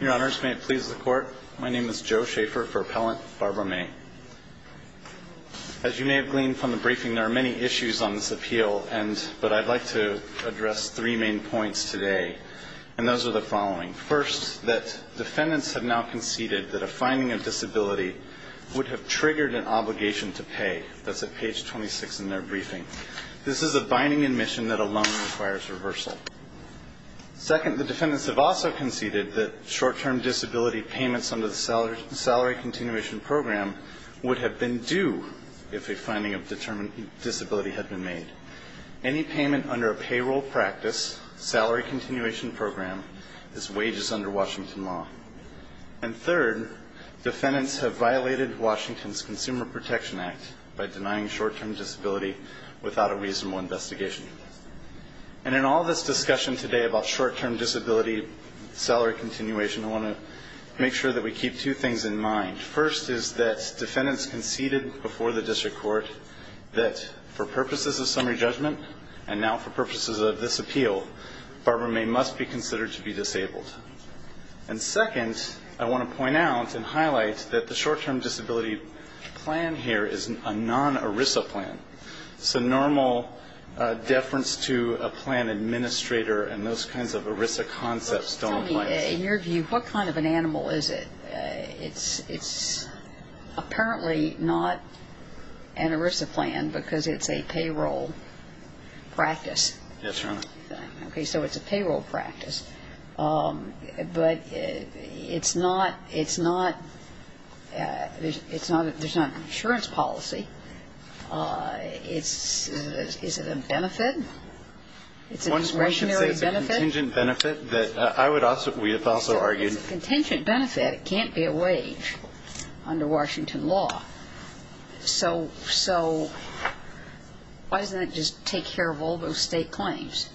Your Honors, may it please the Court, my name is Joe Schaefer for Appellant Barbara May. As you may have gleaned from the briefing, there are many issues on this appeal, but I'd like to address three main points today. And those are the following. First, that defendants have now conceded that a finding of disability would have triggered an obligation to pay. That's at page 26 in their briefing. This is a binding admission that alone requires reversal. Second, the defendants have also conceded that short-term disability payments under the Salary Continuation Program would have been due if a finding of disability had been made. Any payment under a payroll practice, Salary Continuation Program, is wages under Washington law. And third, defendants have violated Washington's Consumer Protection Act by denying short-term disability without a reasonable investigation. And in all this discussion today about short-term disability salary continuation, I want to make sure that we keep two things in mind. First is that defendants conceded before the district court that for purposes of summary judgment and now for purposes of this appeal, Barbara May must be considered to be disabled. And second, I want to point out and highlight that the short-term disability plan here is a non-ERISA plan. It's a normal deference to a plan administrator, and those kinds of ERISA concepts don't apply. In your view, what kind of an animal is it? It's apparently not an ERISA plan because it's a payroll practice. Yes, Your Honor. Okay, so it's a payroll practice. But it's not, it's not, it's not, there's not an insurance policy. It's, is it a benefit? It's a discretionary benefit? One should say it's a contingent benefit that I would also, we have also argued. It's a contingent benefit. It can't be a wage under Washington law. So, so why doesn't it just take care of all those state claims?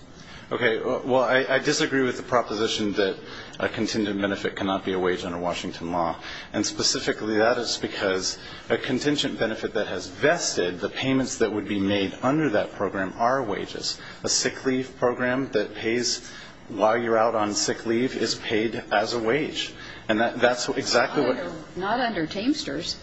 Okay, well, I disagree with the proposition that a contingent benefit cannot be a wage under Washington law. And specifically that is because a contingent benefit that has vested, the payments that would be made under that program are wages. A sick leave program that pays while you're out on sick leave is paid as a wage. And that's exactly what. Not under Teamsters.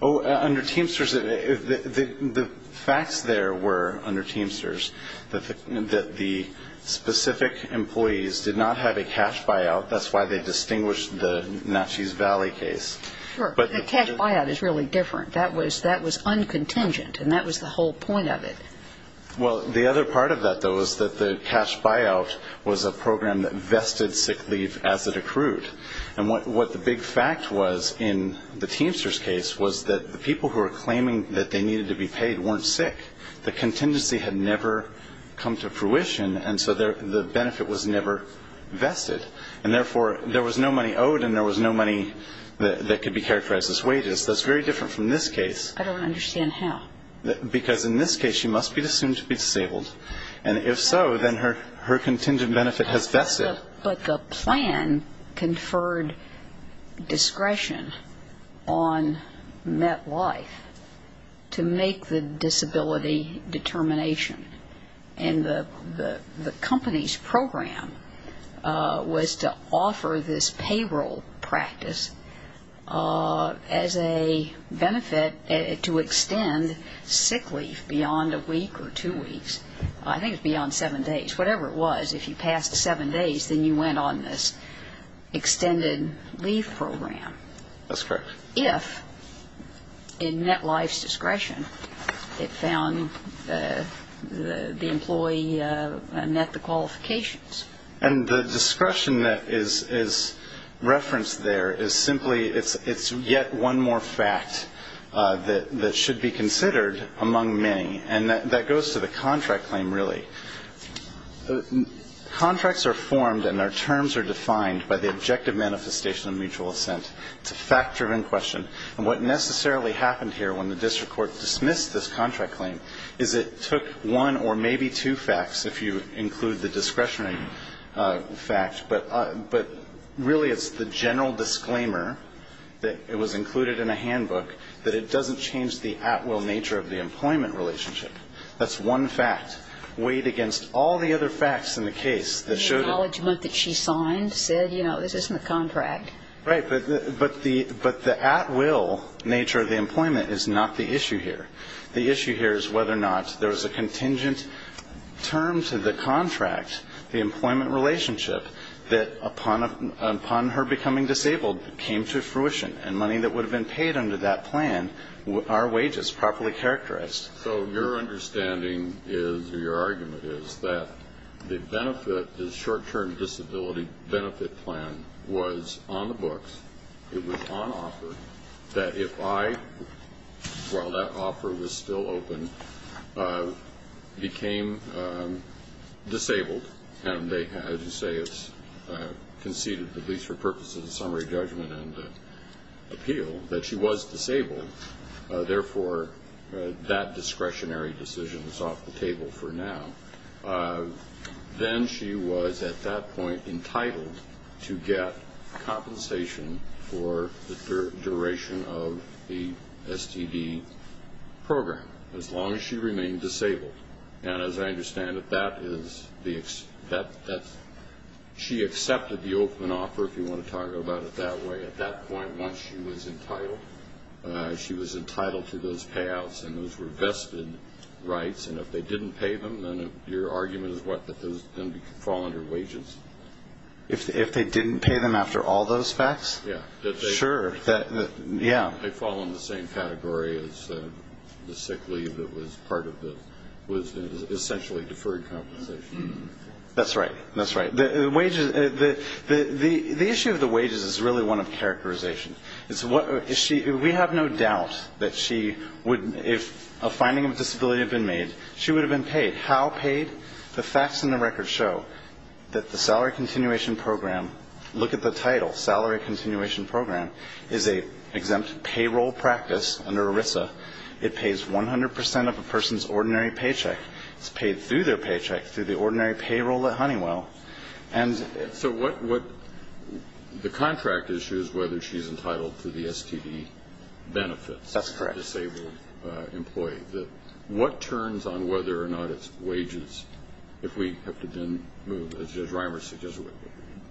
Oh, under Teamsters. The facts there were, under Teamsters, that the specific employees did not have a cash buyout. That's why they distinguished the Natchez Valley case. Sure, but the cash buyout is really different. That was, that was uncontingent. And that was the whole point of it. Well, the other part of that, though, is that the cash buyout was a program that vested sick leave as it accrued. And what the big fact was in the Teamsters case was that the people who were claiming that they needed to be paid weren't sick. The contingency had never come to fruition, and so the benefit was never vested. And therefore, there was no money owed and there was no money that could be characterized as wages. That's very different from this case. I don't understand how. Because in this case, she must be assumed to be disabled. And if so, then her contingent benefit has vested. But the plan conferred discretion on MetLife to make the disability determination. And the company's program was to offer this payroll practice as a benefit to extend sick leave beyond a week or two weeks. I think it was beyond seven days. Whatever it was, if you passed seven days, then you went on this extended leave program. That's correct. If, in MetLife's discretion, it found the employee met the qualifications. And the discretion that is referenced there is simply it's yet one more fact that should be considered among many. And that goes to the contract claim, really. Contracts are formed and their terms are defined by the objective manifestation of mutual assent. It's a fact-driven question. And what necessarily happened here when the district court dismissed this contract claim is it took one or maybe two facts, if you include the discretionary fact, but really it's the general disclaimer that it was included in a handbook that it doesn't change the at-will nature of the employment relationship. That's one fact. Weighed against all the other facts in the case that showed that. The acknowledgement that she signed said, you know, this isn't a contract. Right. But the at-will nature of the employment is not the issue here. The issue here is whether or not there was a contingent term to the contract, the employment relationship, that upon her becoming disabled came to fruition. And money that would have been paid under that plan are wages, properly characterized. So your understanding is, or your argument is, that the benefit, the short-term disability benefit plan was on the books, it was on offer, that if I, while that offer was still open, became disabled, as you say it's conceded, at least for purposes of summary judgment and appeal, that she was disabled, therefore that discretionary decision is off the table for now. Then she was at that point entitled to get compensation for the duration of the STD program, as long as she remained disabled. And as I understand it, that is the, she accepted the open offer, if you want to talk about it that way, at that point once she was entitled. She was entitled to those payouts, and those were vested rights, and if they didn't pay them, then your argument is what, that those then fall under wages? If they didn't pay them after all those facts? Yeah. Sure. Yeah. They fall in the same category as the sick leave that was part of the, was essentially deferred compensation. That's right. That's right. The wages, the issue of the wages is really one of characterization. It's what, we have no doubt that she would, if a finding of disability had been made, she would have been paid. How paid? The facts in the record show that the salary continuation program, look at the title, salary continuation program, is an exempt payroll practice under ERISA. It pays 100% of a person's ordinary paycheck. It's paid through their paycheck, through the ordinary payroll at Honeywell. So what, the contract issues whether she's entitled to the STD benefits. That's correct. Disabled employee. What turns on whether or not it's wages if we have to then move, as Reimer suggests,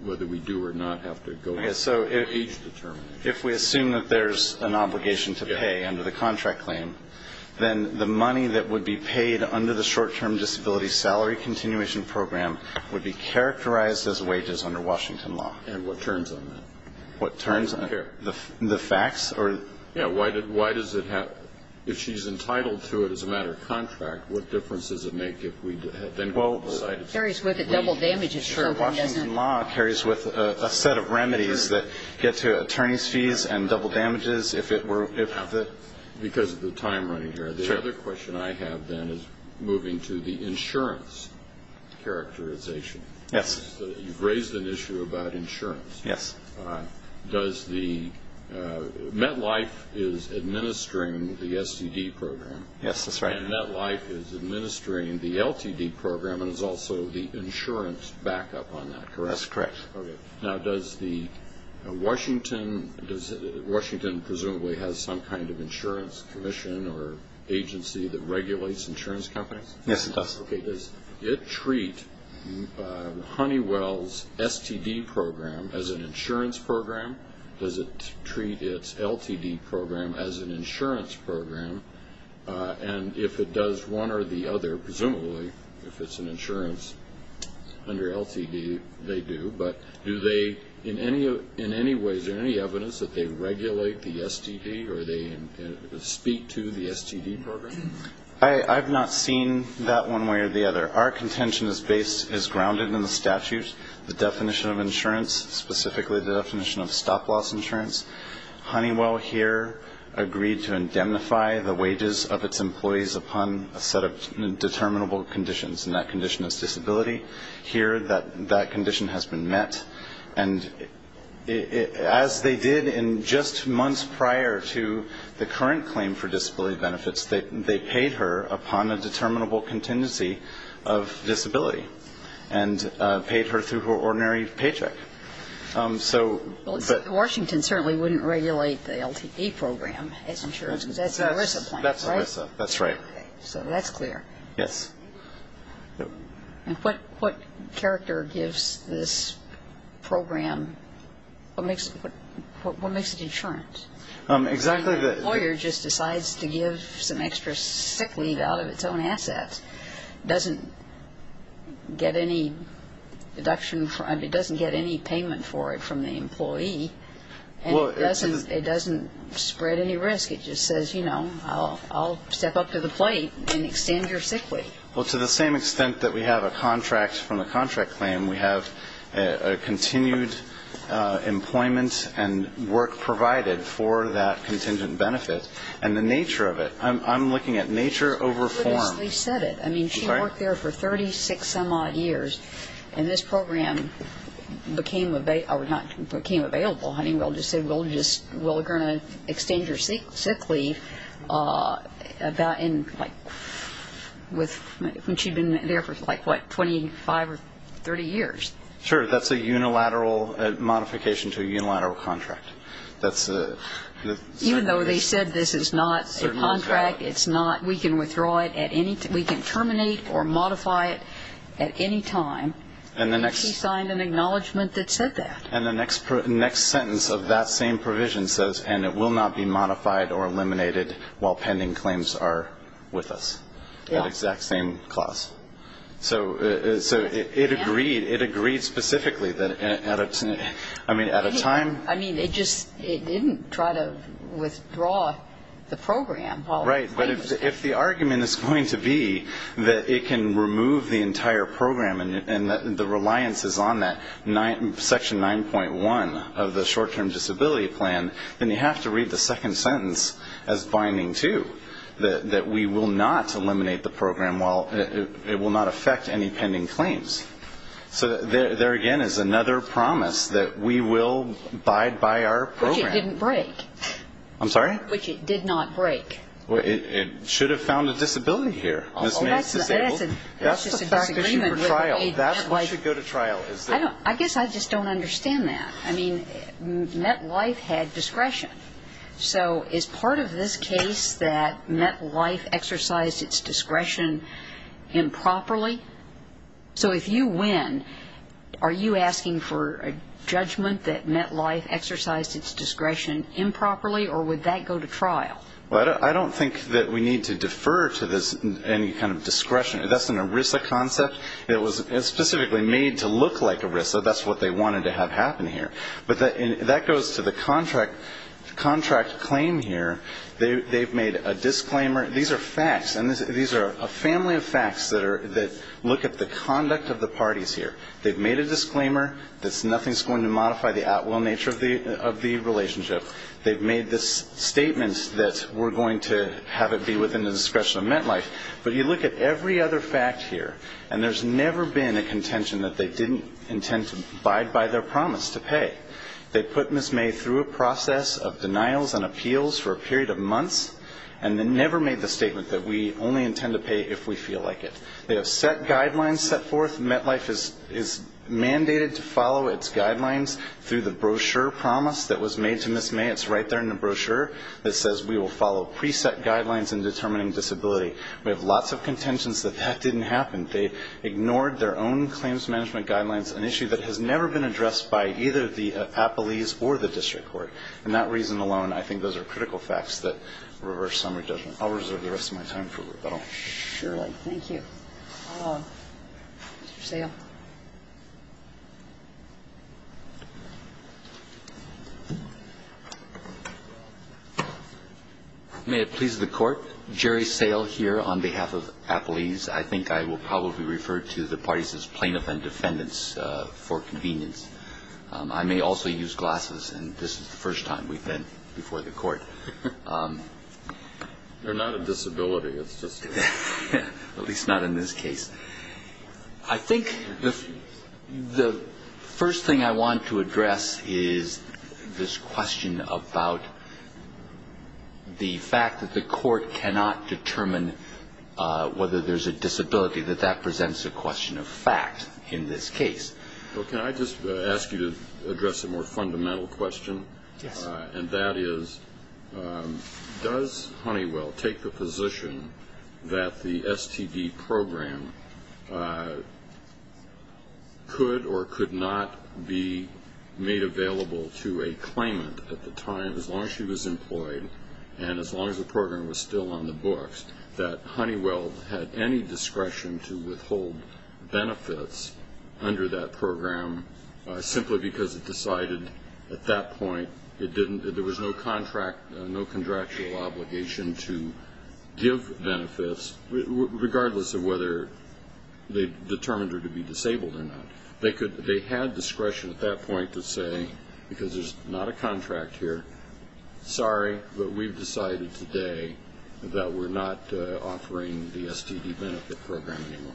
whether we do or not have to go through age determination? If we assume that there's an obligation to pay under the contract claim, then the money that would be paid under the short-term disability salary continuation program would be characterized as wages under Washington law. And what turns on that? What turns on it? Who's to care? The facts? Yeah. Why does it have? If she's entitled to it as a matter of contract, what difference does it make if we then go to the site? It carries with it double damages. Sure. Washington law carries with a set of remedies that get to attorney's fees and double damages if it were... Because of the time running here. Sure. The other question I have then is moving to the insurance characterization. Yes. You've raised an issue about insurance. Yes. Does the... MetLife is administering the STD program. Yes, that's right. And MetLife is administering the LTD program and is also the insurance backup on that, correct? That's correct. Okay. Now, does the Washington... Washington presumably has some kind of insurance commission or agency that regulates insurance companies? Yes, it does. Okay. Does it treat Honeywell's STD program as an insurance program? Does it treat its LTD program as an insurance program? And if it does one or the other, presumably, if it's an insurance under LTD, they do. But do they in any way, is there any evidence that they regulate the STD or they speak to the STD program? I've not seen that one way or the other. Our contention is grounded in the statute, the definition of insurance, specifically the definition of stop-loss insurance. Honeywell here agreed to indemnify the wages of its employees upon a set of determinable conditions, and that condition is disability. Here, that condition has been met. And as they did in just months prior to the current claim for disability benefits, they paid her upon a determinable contingency of disability and paid her through her ordinary paycheck. Washington certainly wouldn't regulate the LTD program as insurance. That's the ERISA plan, right? That's ERISA. That's right. So that's clear. Yes. And what character gives this program, what makes it insurance? Exactly. The employer just decides to give some extra sick leave out of its own assets, doesn't get any deduction, it doesn't get any payment for it from the employee, and it doesn't spread any risk. It just says, you know, I'll step up to the plate and extend your sick leave. Well, to the same extent that we have a contract from a contract claim, we have a continued employment and work provided for that contingent benefit. And the nature of it, I'm looking at nature over form. She said it. I mean, she worked there for 36 some odd years, and this program became available. Honeywell just said, well, we're going to extend your sick leave about in, like, when she'd been there for, like, what, 25 or 30 years. Sure. That's a unilateral modification to a unilateral contract. Even though they said this is not a contract, it's not, we can withdraw it at any time. We can terminate or modify it at any time. And she signed an acknowledgment that said that. And the next sentence of that same provision says, and it will not be modified or eliminated while pending claims are with us. Yeah. That exact same clause. So it agreed specifically that at a time. I mean, it just didn't try to withdraw the program. Right. But if the argument is going to be that it can remove the entire program and the reliance is on that, Section 9.1 of the short-term disability plan, then you have to read the second sentence as binding, too, that we will not eliminate the program while it will not affect any pending claims. So there, again, is another promise that we will abide by our program. Which it didn't break. I'm sorry? Which it did not break. It should have found a disability here. That's the fact issue for trial. That's what should go to trial. I guess I just don't understand that. I mean, MetLife had discretion. So is part of this case that MetLife exercised its discretion improperly? So if you win, are you asking for a judgment that MetLife exercised its discretion improperly, or would that go to trial? Well, I don't think that we need to defer to this any kind of discretion. That's an ERISA concept. It was specifically made to look like ERISA. That's what they wanted to have happen here. But that goes to the contract claim here. They've made a disclaimer. These are facts, and these are a family of facts that look at the conduct of the parties here. They've made a disclaimer that nothing's going to modify the at-will nature of the relationship. They've made this statement that we're going to have it be within the discretion of MetLife. But you look at every other fact here, and there's never been a contention that they didn't intend to abide by their promise to pay. They put Ms. May through a process of denials and appeals for a period of months, and they never made the statement that we only intend to pay if we feel like it. They have guidelines set forth. MetLife is mandated to follow its guidelines through the brochure promise that was made to Ms. May. It's right there in the brochure that says we will follow preset guidelines in determining disability. We have lots of contentions that that didn't happen. They ignored their own claims management guidelines, an issue that has never been addressed by either the appellees or the district court. And that reason alone, I think those are critical facts that reverse summary judgment. I'll reserve the rest of my time for rebuttal. Thank you. Mr. Sale. May it please the Court. Jerry Sale here on behalf of appellees. I think I will probably refer to the parties as plaintiff and defendants for convenience. I may also use glasses, and this is the first time we've been before the Court. They're not a disability. At least not in this case. I think the first thing I want to address is this question about the fact that the Court cannot determine whether there's a disability, that that presents a question of fact in this case. Can I just ask you to address a more fundamental question? Yes. And that is, does Honeywell take the position that the STD program could or could not be made available to a claimant at the time, as long as she was employed and as long as the program was still on the books, that Honeywell had any discretion to withhold benefits under that program simply because it decided at that point there was no contractual obligation to give benefits, regardless of whether they determined her to be disabled or not. They had discretion at that point to say, because there's not a contract here, sorry, but we've decided today that we're not offering the STD benefit program anymore.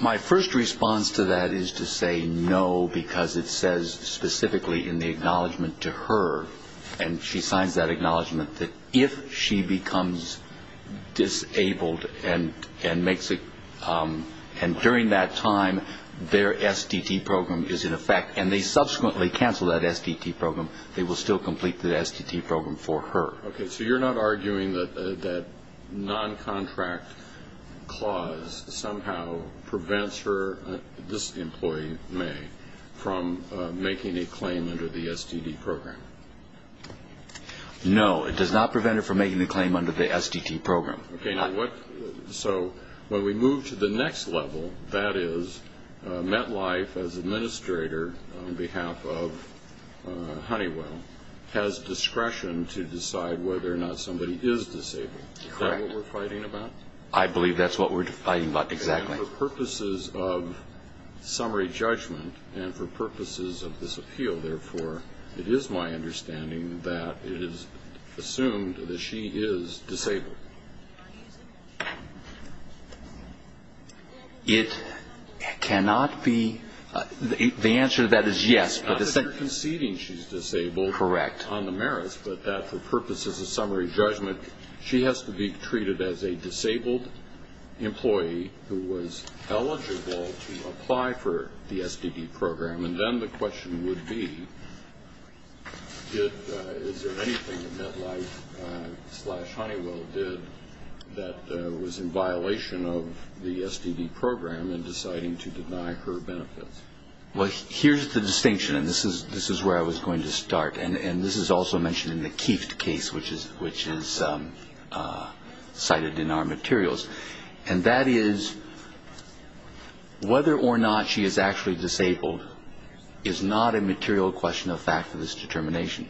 My first response to that is to say no, because it says specifically in the acknowledgment to her, and she signs that acknowledgment, that if she becomes disabled and makes it, and during that time their STD program is in effect, and they subsequently cancel that STD program, they will still complete the STD program for her. Okay. So you're not arguing that that noncontract clause somehow prevents her, this employee, May, from making a claim under the STD program? No, it does not prevent her from making a claim under the STD program. Okay. So when we move to the next level, that is, MetLife, as administrator on behalf of Honeywell, has discretion to decide whether or not somebody is disabled. Correct. Is that what we're fighting about? I believe that's what we're fighting about, exactly. And for purposes of summary judgment and for purposes of this appeal, therefore, it is my understanding that it is assumed that she is disabled. It cannot be. The answer to that is yes. Not that you're conceding she's disabled. Correct. On the merits, but that for purposes of summary judgment, she has to be treated as a disabled employee who was eligible to apply for the STD program. And then the question would be, is there anything that MetLife-slash-Honeywell did that was in violation of the STD program in deciding to deny her benefits? Well, here's the distinction, and this is where I was going to start. And this is also mentioned in the Keift case, which is cited in our materials. And that is, whether or not she is actually disabled is not a material question of fact of this determination.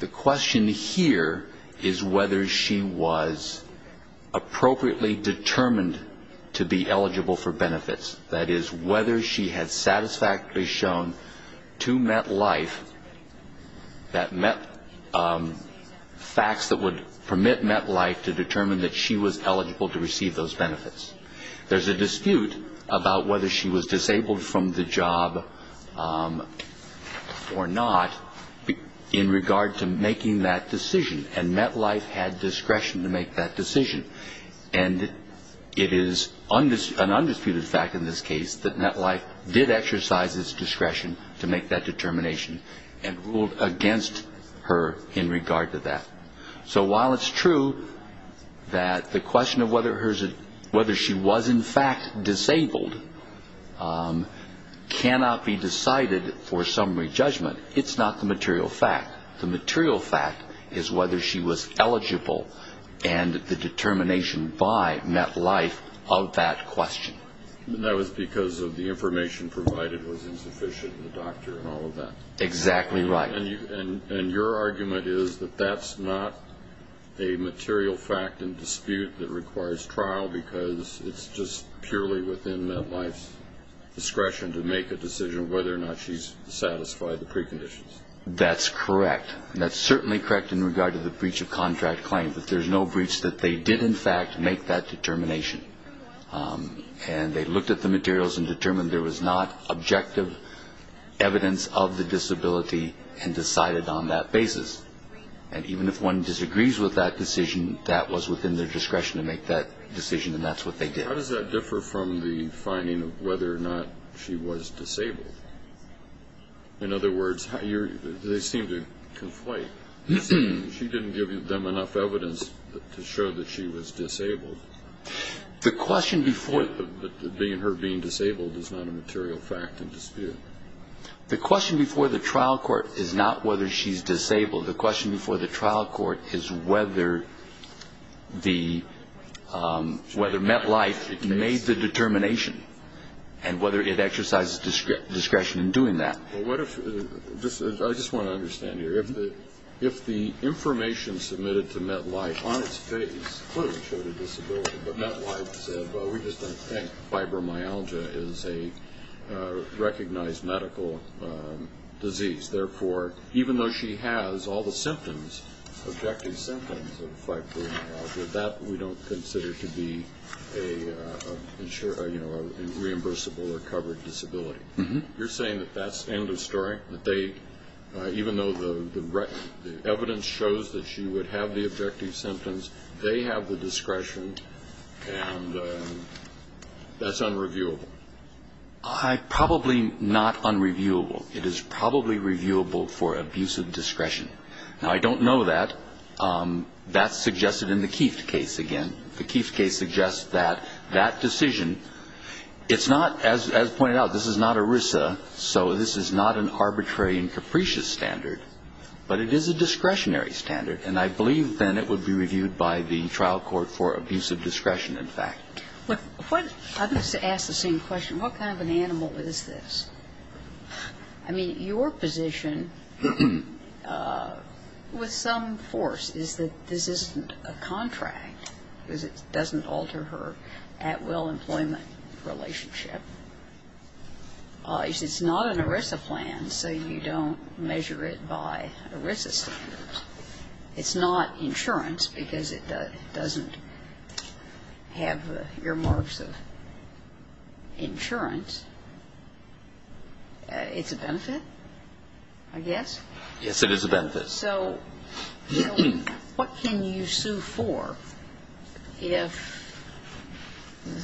The question here is whether she was appropriately determined to be eligible for benefits. That is, whether she had satisfactorily shown to MetLife that facts that would permit MetLife to determine that she was eligible to receive those benefits. There's a dispute about whether she was disabled from the job or not in regard to making that decision. And MetLife had discretion to make that decision. And it is an undisputed fact in this case that MetLife did exercise its discretion to make that determination and ruled against her in regard to that. So while it's true that the question of whether she was in fact disabled cannot be decided for summary judgment, it's not the material fact. The material fact is whether she was eligible and the determination by MetLife of that question. And that was because of the information provided was insufficient and the doctor and all of that. Exactly right. And your argument is that that's not a material fact and dispute that requires trial because it's just purely within MetLife's discretion to make a decision of whether or not she's satisfied the preconditions. That's correct. And that's certainly correct in regard to the breach of contract claim. But there's no breach that they did in fact make that determination. And they looked at the materials and determined there was not objective evidence of the disability and decided on that basis. And even if one disagrees with that decision, that was within their discretion to make that decision. And that's what they did. How does that differ from the finding of whether or not she was disabled? In other words, they seem to conflate. She didn't give them enough evidence to show that she was disabled. The question before... Her being disabled is not a material fact and dispute. The question before the trial court is not whether she's disabled. The question before the trial court is whether MetLife made the determination and whether it exercises discretion in doing that. I just want to understand here. If the information submitted to MetLife on its face clearly showed a disability, but MetLife said, well, we just don't think fibromyalgia is a recognized medical disease. Therefore, even though she has all the symptoms, objective symptoms of fibromyalgia, that we don't consider to be a reimbursable or covered disability. You're saying that that's end of story, that even though the evidence shows that she would have the objective symptoms, they have the discretion and that's unreviewable? Probably not unreviewable. It is probably reviewable for abuse of discretion. Now, I don't know that. That's suggested in the Keeft case again. The Keeft case suggests that that decision, it's not, as pointed out, this is not ERISA, so this is not an arbitrary and capricious standard, but it is a discretionary standard. And I believe then it would be reviewed by the trial court for abuse of discretion, in fact. I'm going to ask the same question. What kind of an animal is this? I mean, your position with some force is that this isn't a contract, because it doesn't alter her at-will employment relationship. It's not an ERISA plan, so you don't measure it by ERISA standards. It's not insurance because it doesn't have the earmarks of insurance. It's a benefit, I guess? Yes, it is a benefit. So what can you sue for if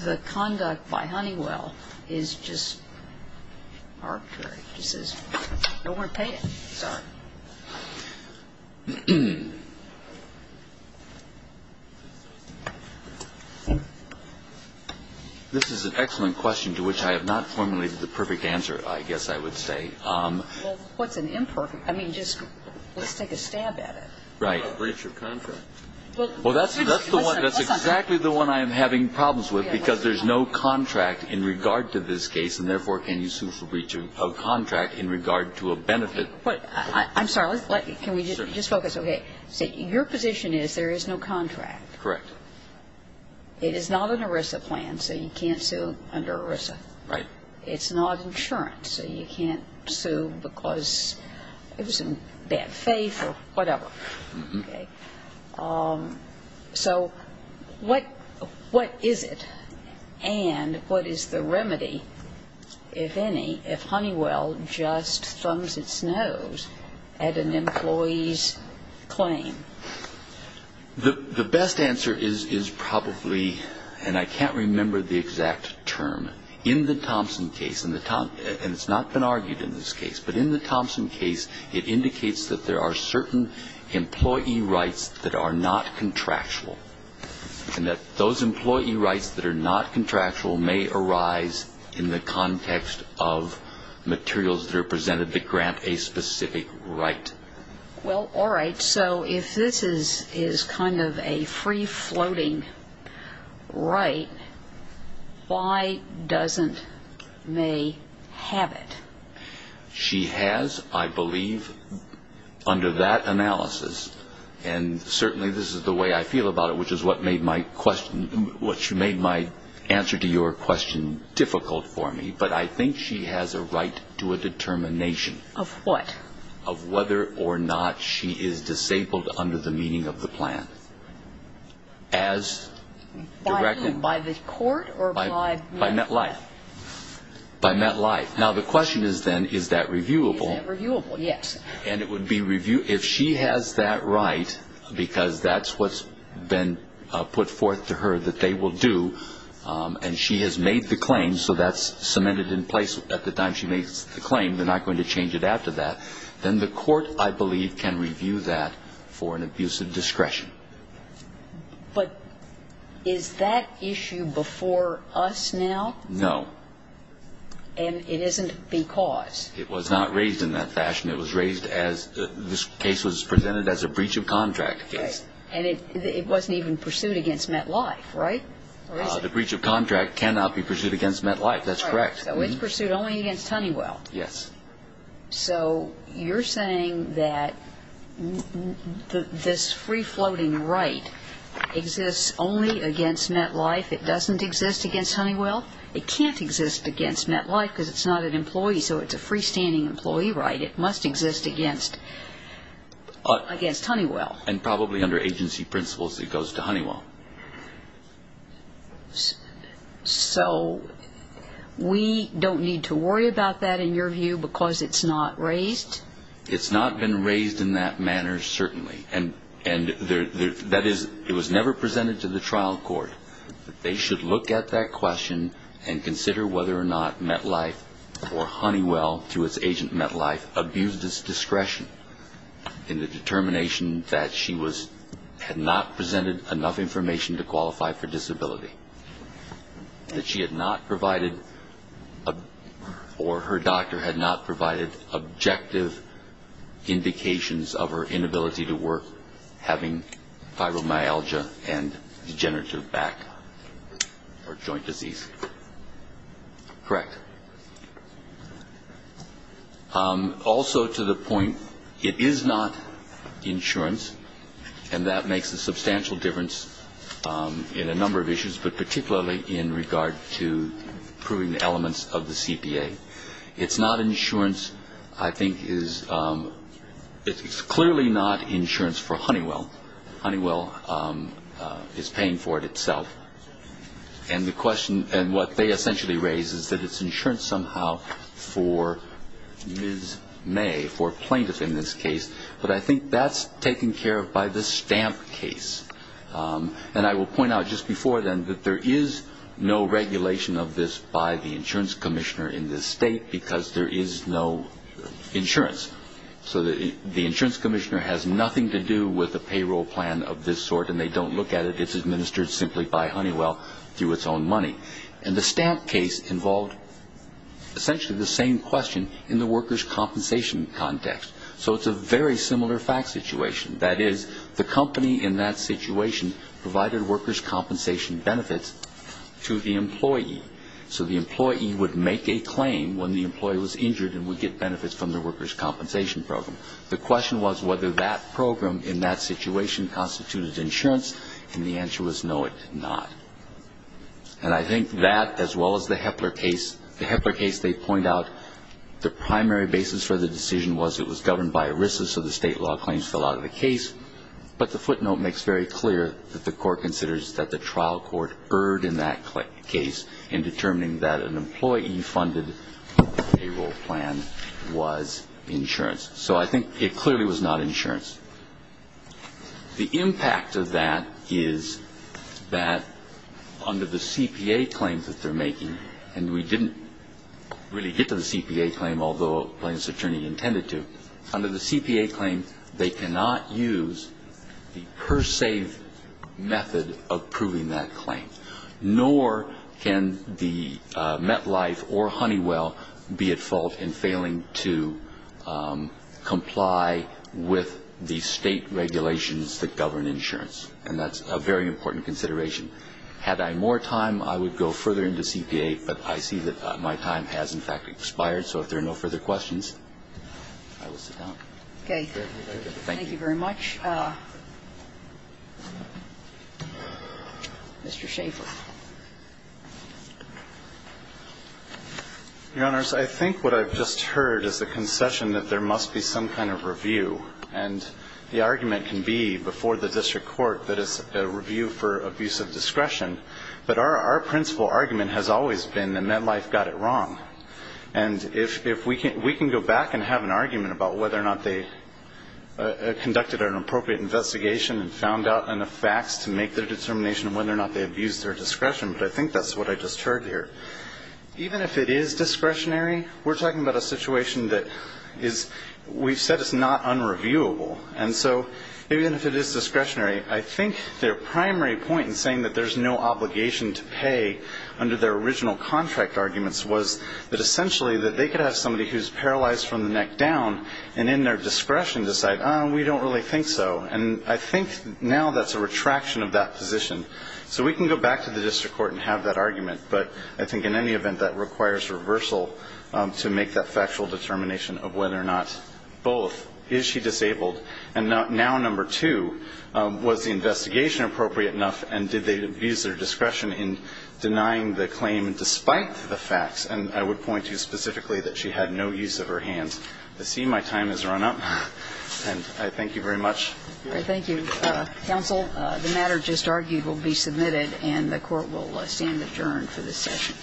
the conduct by Honeywell is just arbitrary? It's just arbitrary. It's just arbitrary. Just says, you know, we're going to pay it. Sorry. This is an excellent question to which I have not formulated the perfect answer, I guess I would say. Well, what's an imperfect question? I mean, just let's take a stab at it. I mean, it's not a breach of contract. Well, that's the one. That's exactly the one I am having problems with because there's no contract in regard to this case, and therefore can you sue for breach of contract in regard to a benefit. I'm sorry. Can we just focus? Okay. So your position is there is no contract. Correct. It is not an ERISA plan, so you can't sue under ERISA. Right. It's not insurance, so you can't sue because it was in bad faith or whatever. Okay. So what is it and what is the remedy, if any, if Honeywell just thumbs its nose at an employee's claim? The best answer is probably, and I can't remember the exact term, in the Thompson case, and it's not been argued in this case, but in the Thompson case it indicates that there are certain employee rights that are not contractual and that those employee rights that are not contractual may arise in the context of materials that are presented that grant a specific right. Well, all right. So if this is kind of a free-floating right, why doesn't May have it? She has, I believe, under that analysis, and certainly this is the way I feel about it, which is what made my answer to your question difficult for me, but I think she has a right to a determination. Of what? Of whether or not she is disabled under the meaning of the plan. By whom? By the court or by MetLife? By MetLife. By MetLife. Now, the question is then, is that reviewable? Is that reviewable? Yes. And if she has that right, because that's what's been put forth to her that they will do, and she has made the claim so that's cemented in place at the time she makes the claim, they're not going to change it after that, then the court, I believe, can review that for an abuse of discretion. But is that issue before us now? No. And it isn't because? It was not raised in that fashion. It was raised as this case was presented as a breach of contract case. Right. And it wasn't even pursued against MetLife, right? The breach of contract cannot be pursued against MetLife. That's correct. So it's pursued only against Honeywell. Yes. So you're saying that this free-floating right exists only against MetLife, it doesn't exist against Honeywell? It can't exist against MetLife because it's not an employee, so it's a freestanding employee right. It must exist against Honeywell. And probably under agency principles it goes to Honeywell. So we don't need to worry about that, in your view, because it's not raised? It's not been raised in that manner, certainly. And that is, it was never presented to the trial court. They should look at that question and consider whether or not MetLife or Honeywell, through its agent MetLife, abused its discretion in the determination that she had not presented enough information to qualify for disability, that she had not provided or her doctor had not provided objective indications of her inability to work, having fibromyalgia and degenerative back or joint disease. Correct. Also to the point, it is not insurance, and that makes a substantial difference in a number of issues, but particularly in regard to proving the elements of the CPA. It's not insurance. I think it's clearly not insurance for Honeywell. Honeywell is paying for it itself. And what they essentially raise is that it's insurance somehow for Ms. May, for plaintiffs in this case. But I think that's taken care of by the Stamp case. And I will point out just before then that there is no regulation of this by the insurance commissioner in this state because there is no insurance. So the insurance commissioner has nothing to do with a payroll plan of this sort, and they don't look at it. It's administered simply by Honeywell through its own money. And the Stamp case involved essentially the same question in the workers' compensation context. So it's a very similar fact situation. That is, the company in that situation provided workers' compensation benefits to the employee. So the employee would make a claim when the employee was injured and would get benefits from the workers' compensation program. The question was whether that program in that situation constituted insurance, and the answer was no, it did not. And I think that, as well as the Hepler case, the Hepler case they point out the primary basis for the decision was it was governed by ERISA, so the state law claims fell out of the case. But the footnote makes very clear that the court considers that the trial court erred in that case in determining that an employee funded payroll plan was insurance. So I think it clearly was not insurance. The impact of that is that under the CPA claims that they're making, and we didn't really get to the CPA claim, although the plaintiff's attorney intended to, under the CPA claim they cannot use the per se method of proving that claim, nor can the MetLife or Honeywell be at fault in failing to comply with the State regulations that govern insurance, and that's a very important consideration. Had I more time, I would go further into CPA, but I see that my time has, in fact, expired, so if there are no further questions, I will sit down. Thank you. Thank you very much. Mr. Schaffer. Your Honors, I think what I've just heard is the concession that there must be some kind of review, and the argument can be before the district court that it's a review for abuse of discretion, but our principal argument has always been that MetLife got it wrong. And we can go back and have an argument about whether or not they conducted an appropriate investigation and found out enough facts to make their determination whether or not they abused their discretion, but I think that's what I just heard here. Even if it is discretionary, we're talking about a situation that is, we've said it's not unreviewable, and so even if it is discretionary, I think their primary point in saying that there's no obligation to pay under their original contract arguments was that essentially they could have somebody who's paralyzed from the neck down and in their discretion decide, oh, we don't really think so, and I think now that's a retraction of that position. So we can go back to the district court and have that argument, but I think in any event, that requires reversal to make that factual determination of whether or not both, is she disabled, and now number two, was the investigation appropriate enough, and did they abuse their discretion in denying the claim despite the facts? And I would point to specifically that she had no use of her hands. I see my time has run up, and I thank you very much. Thank you. Counsel, the matter just argued will be submitted, and the Court will stand adjourned for this session.